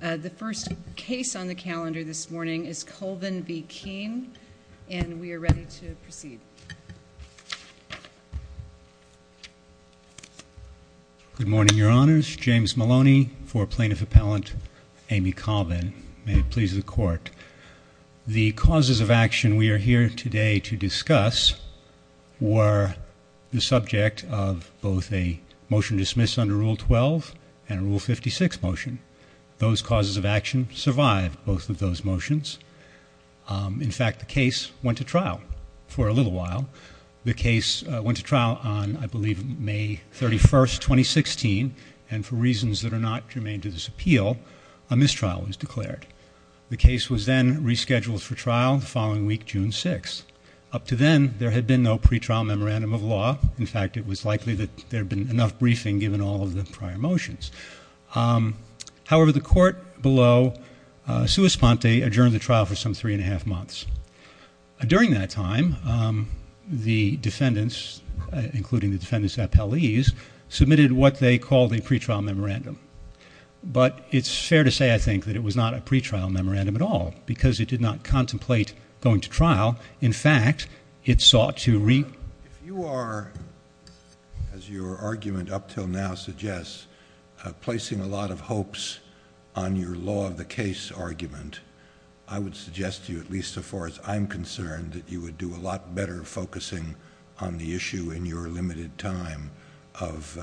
The first case on the calendar this morning is Colvin v. Keen and we are ready to proceed. Good morning your honors, James Maloney for plaintiff appellant Amy Colvin. May it please the court. The causes of action we are here today to discuss were the subject of both a motion to dismiss under rule 12 and rule 56 motion. Those causes of action survived both of those motions. In fact the case went to trial for a little while. The case went to trial on I believe May 31st 2016 and for reasons that are not germane to this appeal a mistrial was declared. The case was then rescheduled for trial the following week June 6. Up to then there had been no pretrial memorandum of law. In fact it However the court below sui sponte adjourned the trial for some three and a half months. During that time the defendants including the defendants appellees submitted what they called a pretrial memorandum. But it's fair to say I think that it was not a pretrial memorandum at all because it did not contemplate going to trial. In fact it sought to read you are as your argument up till now suggests placing a lot of hopes on your law of the case argument I would suggest to you at least so far as I'm concerned that you would do a lot better focusing on the issue in your limited time of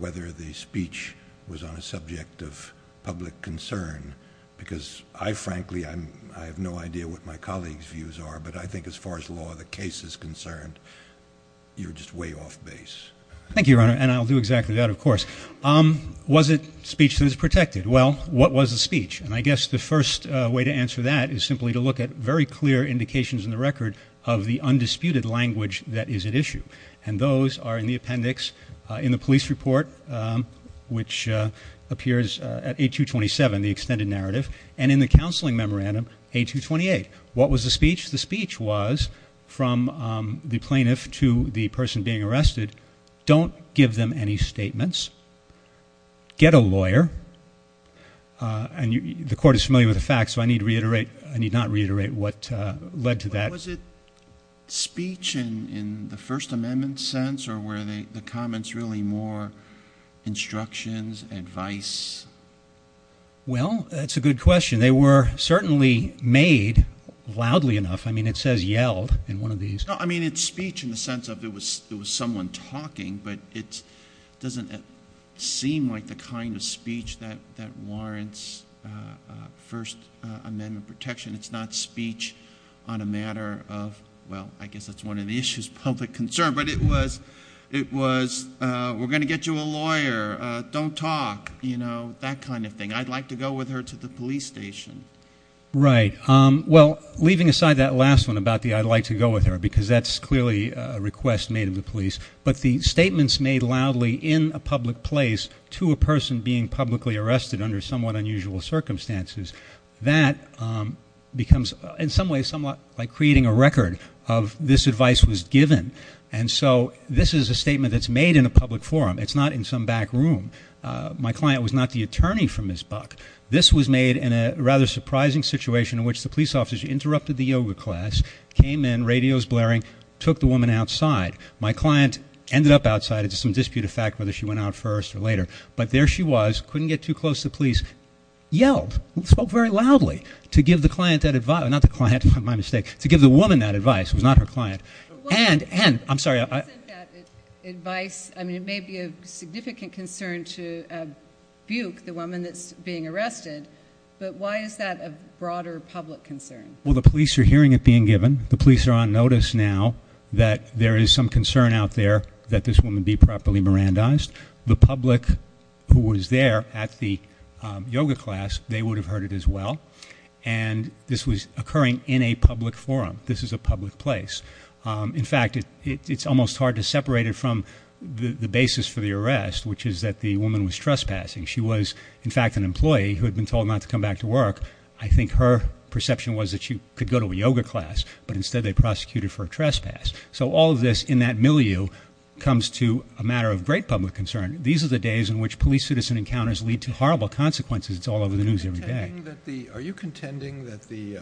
whether the speech was on a subject of public concern because I frankly I'm I have no idea what my colleagues views are but I think as far as law the case is concerned you're just Thank you your honor and I'll do exactly that of course. Was it speech that is protected? Well what was the speech? And I guess the first way to answer that is simply to look at very clear indications in the record of the undisputed language that is at issue and those are in the appendix in the police report which appears at 8227 the extended narrative and in the counseling memorandum 8228. What was the speech? The speech was from the plaintiff to the person being arrested don't give them any statements get a lawyer and you the court is familiar with the facts I need to reiterate I need not reiterate what led to that. Was it speech in the First Amendment sense or were they the comments really more instructions advice? Well that's a good question they were certainly made loudly enough I mean it says yelled in one of these. I mean it's speech in the sense of it was it was someone talking but it doesn't seem like the kind of speech that that warrants First Amendment protection it's not speech on a matter of well I guess that's one of the issues public concern but it was it was we're gonna get you a lawyer don't talk you know that kind of thing I'd like to go with her to the police station. Right well leaving aside that last one about the I'd like to go with her because that's clearly a request made of the police but the statements made loudly in a public place to a person being publicly arrested under somewhat unusual circumstances that becomes in some way somewhat like creating a record of this advice was given and so this is a statement that's made in a public forum it's not in some back room my client was not the attorney from Ms. Buck this was made in a rather situation in which the police officers interrupted the yoga class came in radios blaring took the woman outside my client ended up outside it's some disputed fact whether she went out first or later but there she was couldn't get too close to the police yelled spoke very loudly to give the client that advice not the client my mistake to give the woman that advice was not her client and and I'm sorry I advice I mean it may be a significant concern to Buick the broader public concern well the police are hearing it being given the police are on notice now that there is some concern out there that this woman be properly Miranda's the public who was there at the yoga class they would have heard it as well and this was occurring in a public forum this is a public place in fact it's almost hard to separate it from the the basis for the arrest which is that the woman was trespassing she was in fact an employee who had been told not to come back to work I think her perception was that you could go to a yoga class but instead they prosecuted for a trespass so all of this in that milieu comes to a matter of great public concern these are the days in which police citizen encounters lead to horrible consequences it's all over the news every day are you contending that the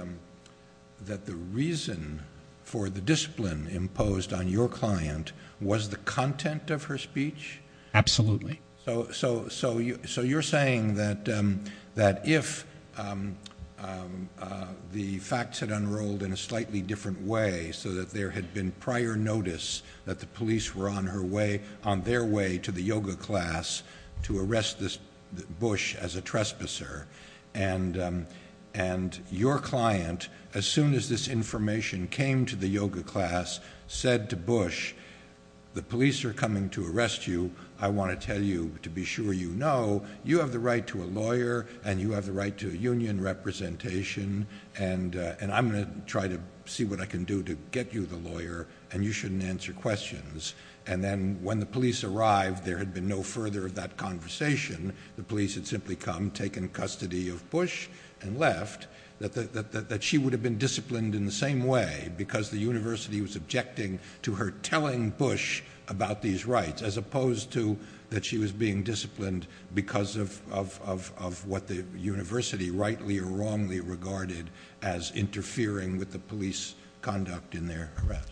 that the reason for the discipline imposed on your client was the content of her speech absolutely so so so you so you're saying that that if the facts had unrolled in a slightly different way so that there had been prior notice that the police were on her way on their way to the yoga class to arrest this Bush as a trespasser and and your client as soon as this information came to the yoga class said to Bush the police are coming to arrest you I want to tell you to be sure you know you have the right to a lawyer and you have the right to a union representation and and I'm gonna try to see what I can do to get you the lawyer and you shouldn't answer questions and then when the police arrived there had been no further of that conversation the police had simply come taken custody of Bush and left that she would have been disciplined in the same way because the university was objecting to her telling Bush about these rights as opposed to that she was being disciplined because of of what the university rightly or wrongly regarded as interfering with the police conduct in their arrest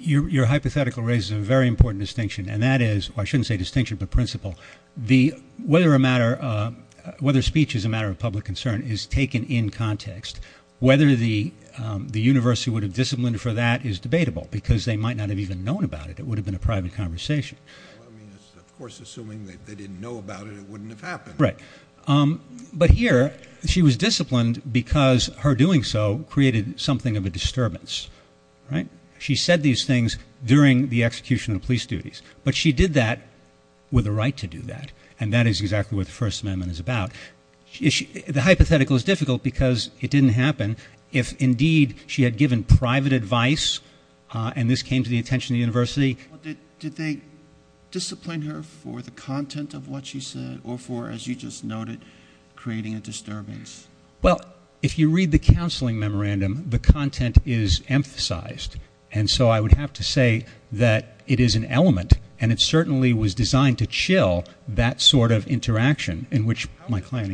your hypothetical raises a very important distinction and that is I shouldn't say distinction but principle the whether a matter whether speech is a matter of public concern is taken in context whether the the university would have disciplined for that is debatable because they might not have even known about it would have been a private conversation but here she was disciplined because her doing so created something of a disturbance she said these things during the execution of police duties but she did that with the right to do that and that is exactly what the First Amendment is about the hypothetical is difficult because it and this came to the attention of the university did they discipline her for the content of what she said or for as you just noted creating a disturbance well if you read the counseling memorandum the content is emphasized and so I would have to say that it is an element and it certainly was designed to chill that sort of interaction in which my client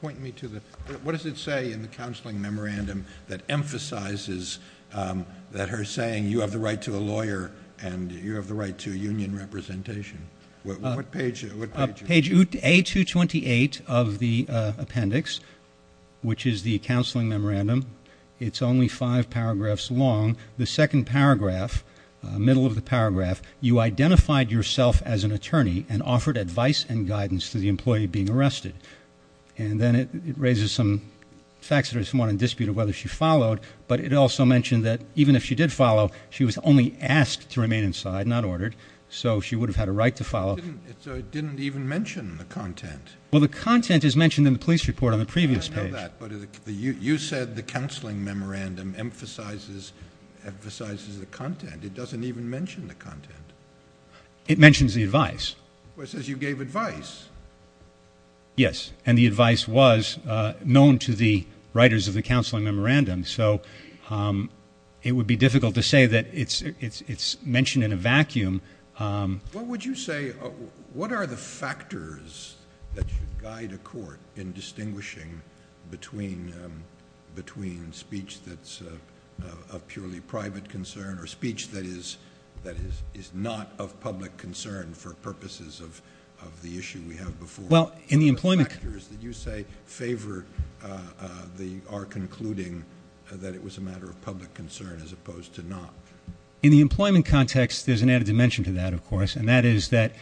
point me to the what does it say in the counseling memorandum that emphasizes that her saying you have the right to a lawyer and you have the right to union representation what page page a 228 of the appendix which is the counseling memorandum it's only five paragraphs long the second paragraph middle of the paragraph you identified yourself as an attorney and offered advice and guidance to the employee being arrested and then it raises some facts or someone in dispute of whether she followed but it also mentioned that even if she did follow she was only asked to remain inside not ordered so she would have had a right to follow didn't even mention the content well the content is mentioned in the police report on the previous page you said the counseling memorandum emphasizes emphasizes the content it doesn't even mention the yes and the advice was known to the writers of the counseling memorandum so it would be difficult to say that it's it's it's mentioned in a vacuum what would you say what are the factors that should guide a court in distinguishing between between speech that's a purely private concern or speech that is that well in the employment factors that you say favor the are concluding that it was a matter of public concern as opposed to not in the employment context there's an added dimension to that of course and that is that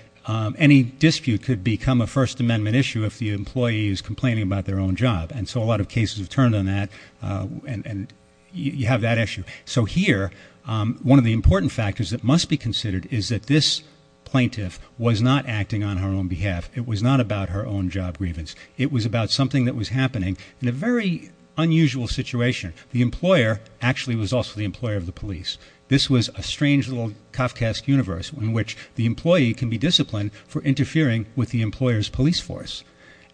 any dispute could become a First Amendment issue if the employee is complaining about their own job and so a lot of cases have turned on that and you have that issue so here one of the important factors that must be considered is that this plaintiff was not acting on her own behalf it was not about her own job grievance it was about something that was happening in a very unusual situation the employer actually was also the employer of the police this was a strange little Kafka's universe in which the employee can be disciplined for interfering with the employers police force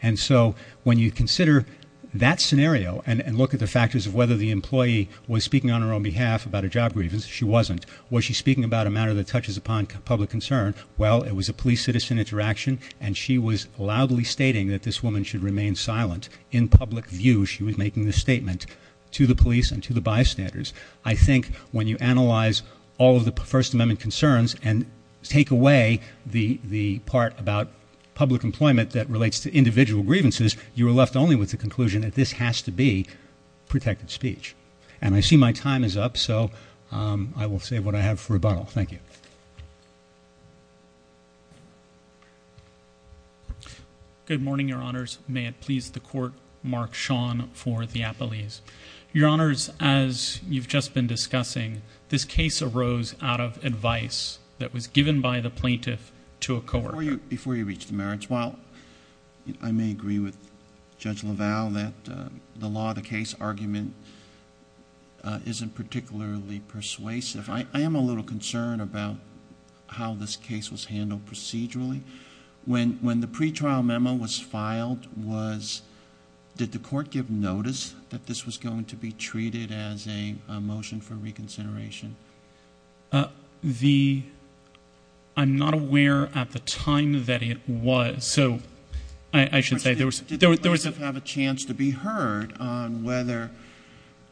and so when you consider that scenario and look at the factors of whether the employee was speaking on her own behalf about a job grievance she wasn't was she speaking about a matter that touches upon public concern well it was a police citizen interaction and she was loudly stating that this woman should remain silent in public view she was making this statement to the police and to the bystanders I think when you analyze all of the First Amendment concerns and take away the the part about public employment that relates to individual grievances you were left only with the conclusion that this has to be protected speech and I see my time is up so I will say what I have for a bottle thank you good morning your honors may it please the court mark Sean for the Apple ease your honors as you've just been discussing this case arose out of advice that was given by the plaintiff to a core you before you reach the merits while I may agree with judge Laval that the law the case argument isn't particularly persuasive I am a little concerned about how this case was handled procedurally when when the pretrial memo was filed was did the court give notice that this was going to be treated as a motion for reconsideration the I'm not aware at the time that it was so I should say there was there was a chance to be heard on whether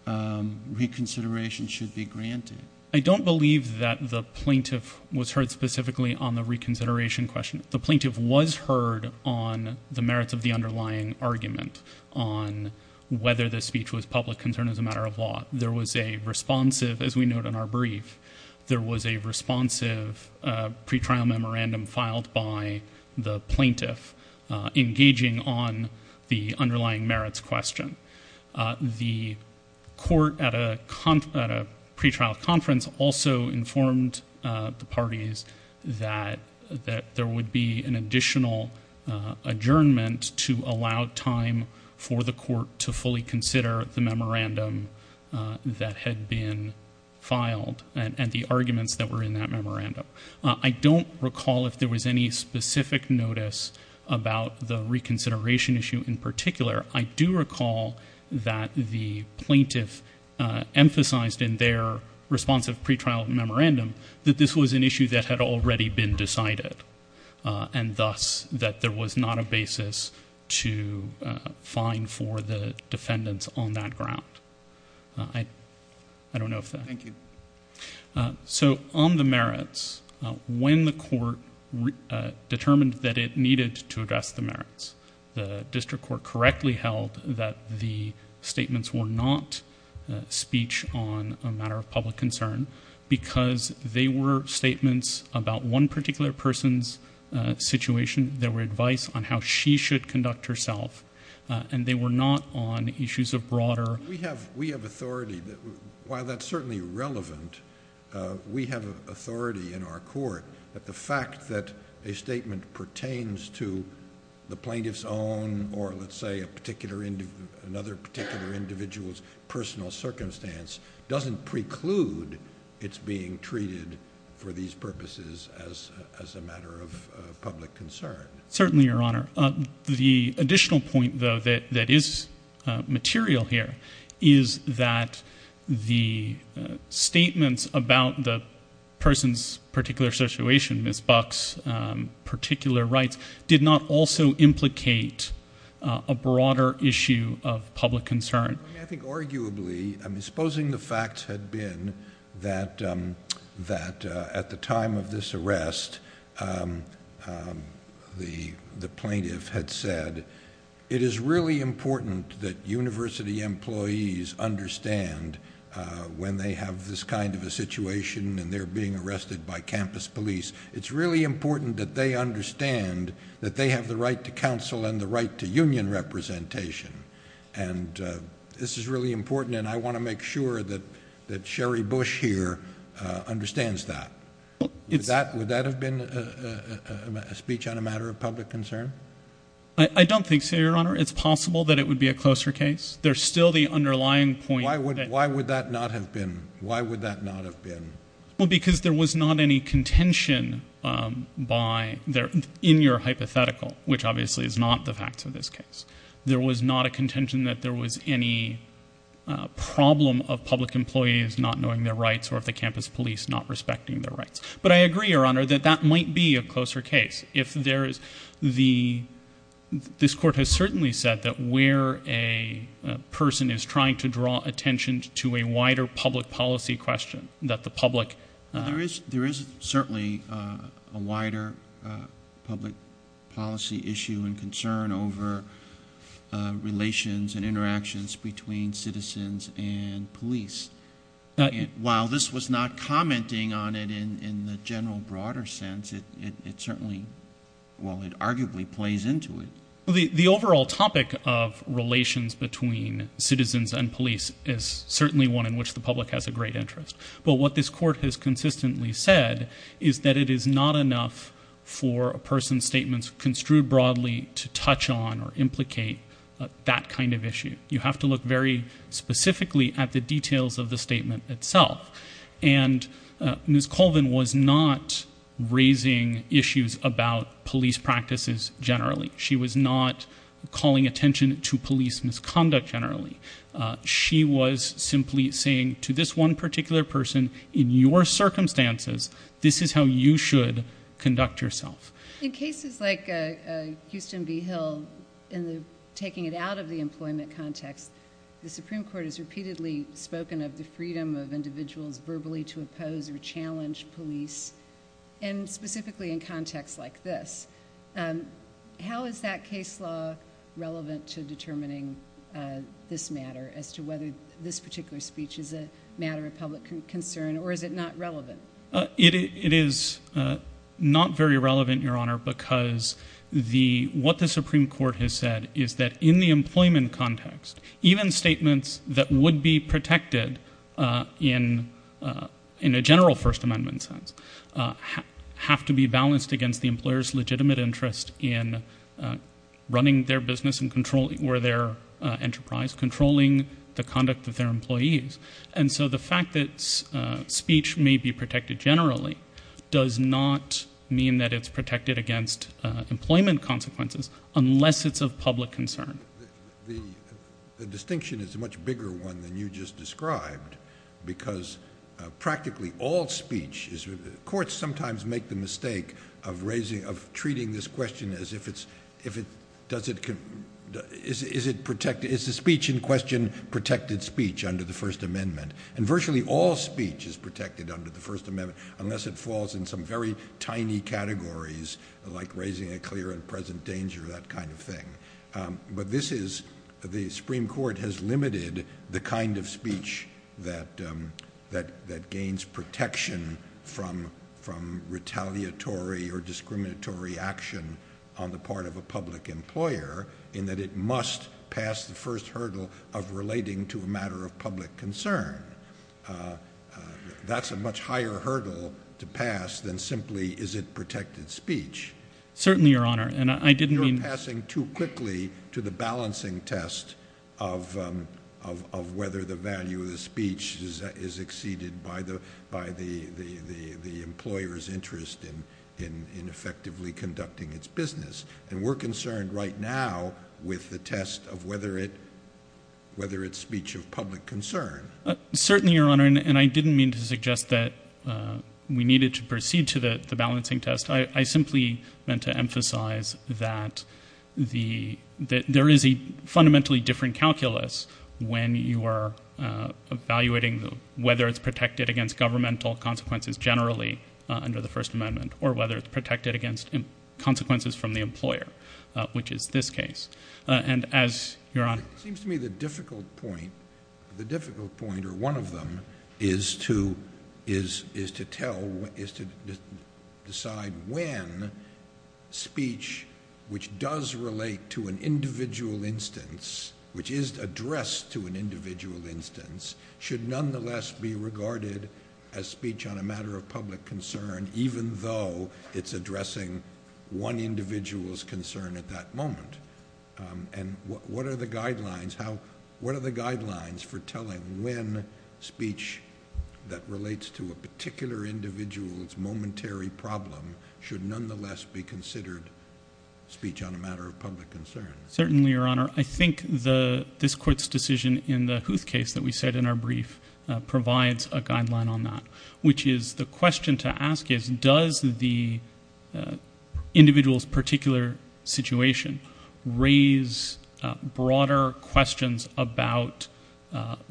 reconsideration should be granted I don't believe that the plaintiff was heard specifically on the reconsideration question the plaintiff was heard on the merits of the underlying argument on whether the speech was public concern as a matter of law there was a responsive as we note in our brief there was a responsive pretrial memorandum filed by the plaintiff engaging on the underlying merits question the court at a conference at a pretrial conference also informed the parties that that there would be an additional adjournment to allow time for the court to fully consider the memorandum that had been filed and the recall if there was any specific notice about the reconsideration issue in particular I do recall that the plaintiff emphasized in their responsive pretrial memorandum that this was an issue that had already been decided and thus that there was not a basis to fine for the defendants on that ground I don't know if thank you so on the merits when the court determined that it needed to address the merits the district court correctly held that the statements were not speech on a matter of public concern because they were statements about one particular person's situation there were advice on how she should conduct herself and they were not on issues of broader we have we have authority that while that's certainly relevant we have authority in our court that the fact that a statement pertains to the plaintiff's own or let's say a particular into another particular individual's personal circumstance doesn't preclude it's being treated for these purposes as as a matter of public concern certainly your honor the additional point though that that is material here is that the statements about the person's particular situation miss bucks particular rights did not also implicate a broader issue of public concern I think arguably I'm supposing the facts had been that that at the time of this arrest the plaintiff had said it is really important that University employees understand when they have this kind of a situation and they're being arrested by campus police it's really important that they understand that they have the right to counsel and the right to union representation and this is really important and I want to make sure that that Sherry Bush here understands that it's that would that have been a speech on a matter of public concern I don't think so your honor it's possible that it would be a closer case there's still the underlying point I would why would that not have been why would that not have been well because there was not any contention by there in your hypothetical which obviously is not the facts of this case there was not a contention that there was any problem of public employees not knowing their police not respecting their rights but I agree your honor that that might be a closer case if there is the this court has certainly said that where a person is trying to draw attention to a wider public policy question that the public there is certainly a wider public policy issue and concern over relations and commenting on it in in the general broader sense it it certainly well it arguably plays into it the the overall topic of relations between citizens and police is certainly one in which the public has a great interest but what this court has consistently said is that it is not enough for a person statements construed broadly to touch on or implicate that kind of issue you have to look very specifically at the details of the statement itself and Ms. Colvin was not raising issues about police practices generally she was not calling attention to police misconduct generally she was simply saying to this one particular person in your circumstances this is how you should conduct yourself in cases like Houston V Hill in the taking it out of the employment context the Supreme Court is repeatedly spoken of the freedom of individuals verbally to oppose or challenge police and specifically in context like this how is that case law relevant to determining this matter as to whether this particular speech is a matter of public concern or is it not relevant it is not very relevant your honor because the what the Supreme Court has said is that in the employment context even statements that would be protected in in a general First Amendment sense have to be balanced against the employers legitimate interest in running their business and controlling where their enterprise controlling the conduct of their employees and so the fact that speech may be protected generally does not mean that it's protected against employment consequences unless it's a public concern the distinction is much bigger one than you just described because practically all speech is with the court sometimes make the mistake of raising of treating this question as if it's if it does it can is it protected is the speech in question protected speech under the First Amendment and virtually all speech is protected under the First Amendment unless it falls in some very tiny categories like raising a clear and present danger that kind of thing but this is the Supreme Court has limited the kind of speech that that that gains protection from from retaliatory or discriminatory action on the part of a public employer in that it must pass the first hurdle of relating to a matter of public concern that's a much higher hurdle to pass than simply is it protected speech certainly your honor and I didn't mean passing too quickly to the balancing test of of whether the value of the speech is exceeded by the by the the the employers interest in in in effectively conducting its business and we're concerned right now with the test of whether it whether it's speech of public concern certainly your honor and I didn't mean to suggest that we needed to proceed to that the balancing test I I simply meant to emphasize that the that there is a fundamentally different calculus when you are evaluating the whether it's protected against governmental consequences generally under the First Amendment or whether it's protected against him consequences from the this case and as your honor seems to me the difficult point the difficult point or one of them is to is is to tell what is to decide when speech which does relate to an individual instance which is addressed to an individual instance should nonetheless be regarded as speech on a matter of public concern even though it's addressing one individual's concern at that moment and what are the guidelines how what are the guidelines for telling when speech that relates to a particular individual's momentary problem should nonetheless be considered speech on a matter of public concern certainly your honor I think the this court's decision in the Huth case that we said in our brief provides a guideline on that which is the question to ask is does the individual's particular situation raise broader questions about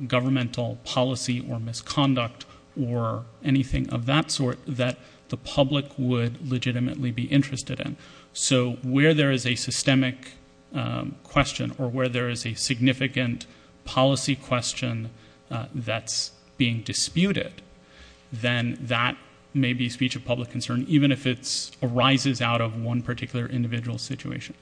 governmental policy or misconduct or anything of that sort that the public would legitimately be interested in so where there is a systemic question or where there is a significant policy question that's being disputed then that maybe speech of public concern even if it's arises out of one particular individual situation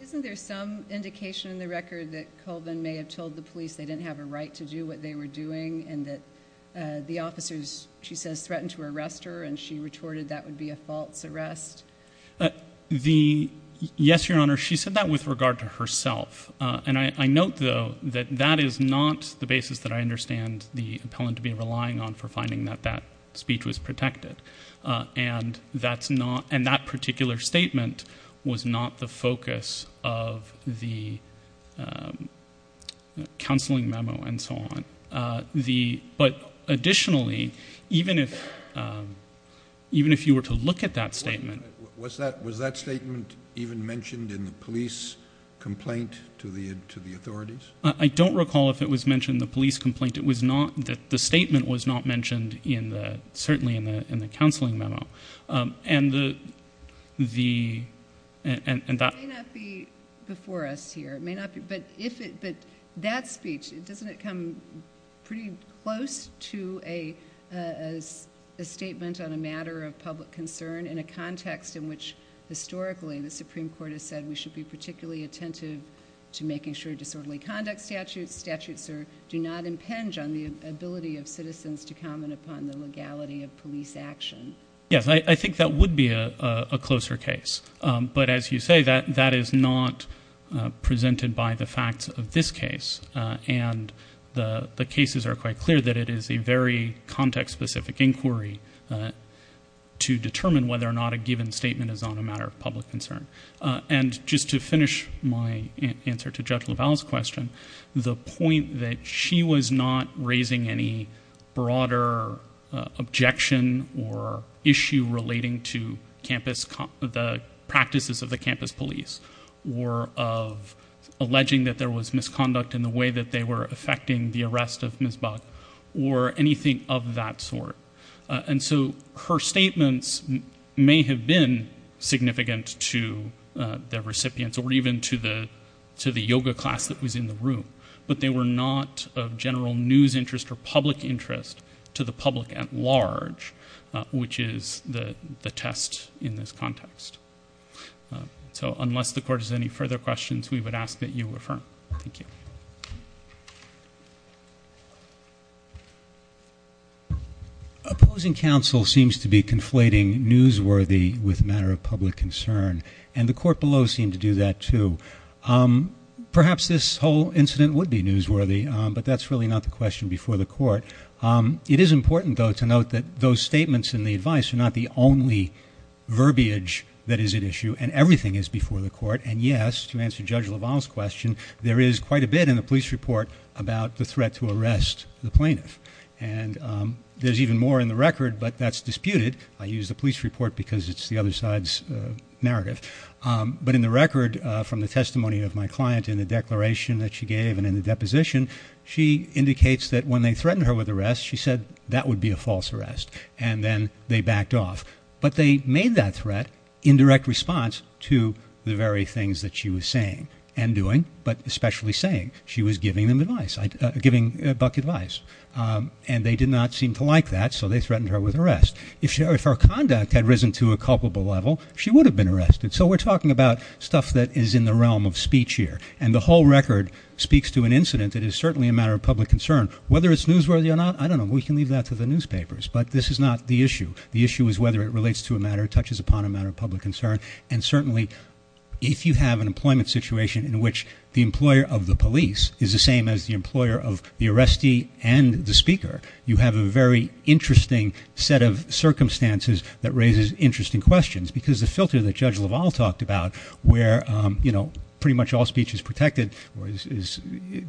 isn't there some indication in the record that Colvin may have told the police they didn't have a right to do what they were doing and that the officers she says threatened to arrest her and she retorted that would be a false arrest the yes your honor she said that with regard to herself and I note though that that is not the basis that I understand the appellant to be relying on for finding that that speech was protected and that's not and that particular statement was not the focus of the counseling memo and so on the but additionally even if even if you were to look at that statement was that was that statement even mentioned in the police complaint to the authorities I don't recall if it was mentioned the police complaint it was not that the statement was not mentioned in the certainly in the in the counseling memo and the the and that before us here may not be but if it but that speech it doesn't come pretty close to a as a statement on a matter of public concern in a context in which historically the Supreme Court has said we should be particularly attentive to making sure disorderly conduct statutes statutes or do not impinge on the ability of citizens to comment upon the legality of police action yes I think that would be a closer case but as you say that that is not presented by the facts of this case and the the cases are quite clear that it is a very context specific inquiry to determine whether or not a given statement is on a matter of public concern and just to finish my answer to Judge LaValle's question the point that she was not raising any broader objection or issue relating to campus the practices of the campus police or of alleging that there was misconduct in the way that they were affecting the arrest of Ms. Buck or anything of that sort and so her statements may have been significant to the recipients or even to the to the yoga class that was in the room but they were not of general news interest or public interest to the public at large which is the the test in this context so unless the court is any further questions we would ask that you affirm thank you opposing counsel seems to be conflating newsworthy with a matter of public concern and the court below seem to do that too perhaps this whole incident would be newsworthy but that's really not the question before the court it is important though to note that those statements in the advice are not the only verbiage that is at issue and everything is before the court and yes to answer Judge LaValle's question there is quite a bit in the police report about the threat to arrest the plaintiff and there's even more in the record but that's disputed I use the police report because it's the other side's narrative but in the record from the testimony of my client in the declaration that she gave and in the deposition she indicates that when they threatened her with arrest she said that would be a false arrest and then they backed off but they made that threat in direct response to the very things that she was saying and doing but especially saying she was giving them advice giving advice and they did not seem to like that so they threatened her with arrest if her conduct had risen to a culpable level she would have been arrested so we're talking about stuff that is in the realm of speech here and the whole record speaks to an incident that is certainly a matter of public concern whether it's newsworthy or not I don't know we can leave that to the newspapers but this is not the issue the issue is whether it relates to a matter touches upon a matter of public concern and certainly if you have an employment situation in which the employer of the police is the same as the employer of the arrestee and the speaker you have a very interesting set of circumstances that raises interesting questions because the filter that judge Lavalle talked about where you know pretty much all speech is protected or is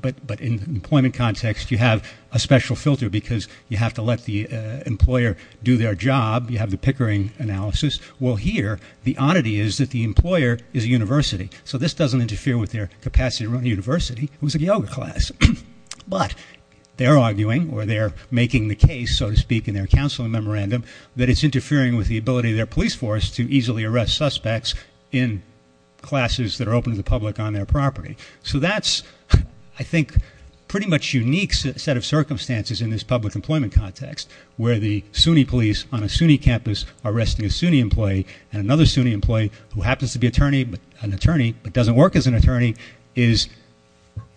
but but in employment context you have a special filter because you have to let the employer do their job you have the Pickering analysis will hear the oddity is that the employer is a university so this doesn't interfere with their capacity run university was a yoga class but they're arguing or they're making the case so to speak in their counseling memorandum that it's interfering with the ability their police force to easily arrest suspects in classes that are open to the public on their property so that's I think pretty much unique set of circumstances in this public employment context where the Sunni police on a Sunni campus arresting a Sunni employee and another Sunni employee who happens to be attorney but an attorney but doesn't work as an attorney is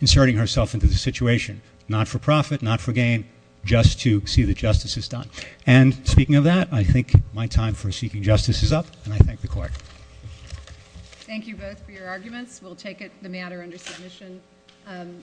inserting herself into the situation not-for-profit not-for-gain just to see the justice is done and speaking of that I think my time for seeking justice is up and I thank the court thank you both for your arguments we'll take it the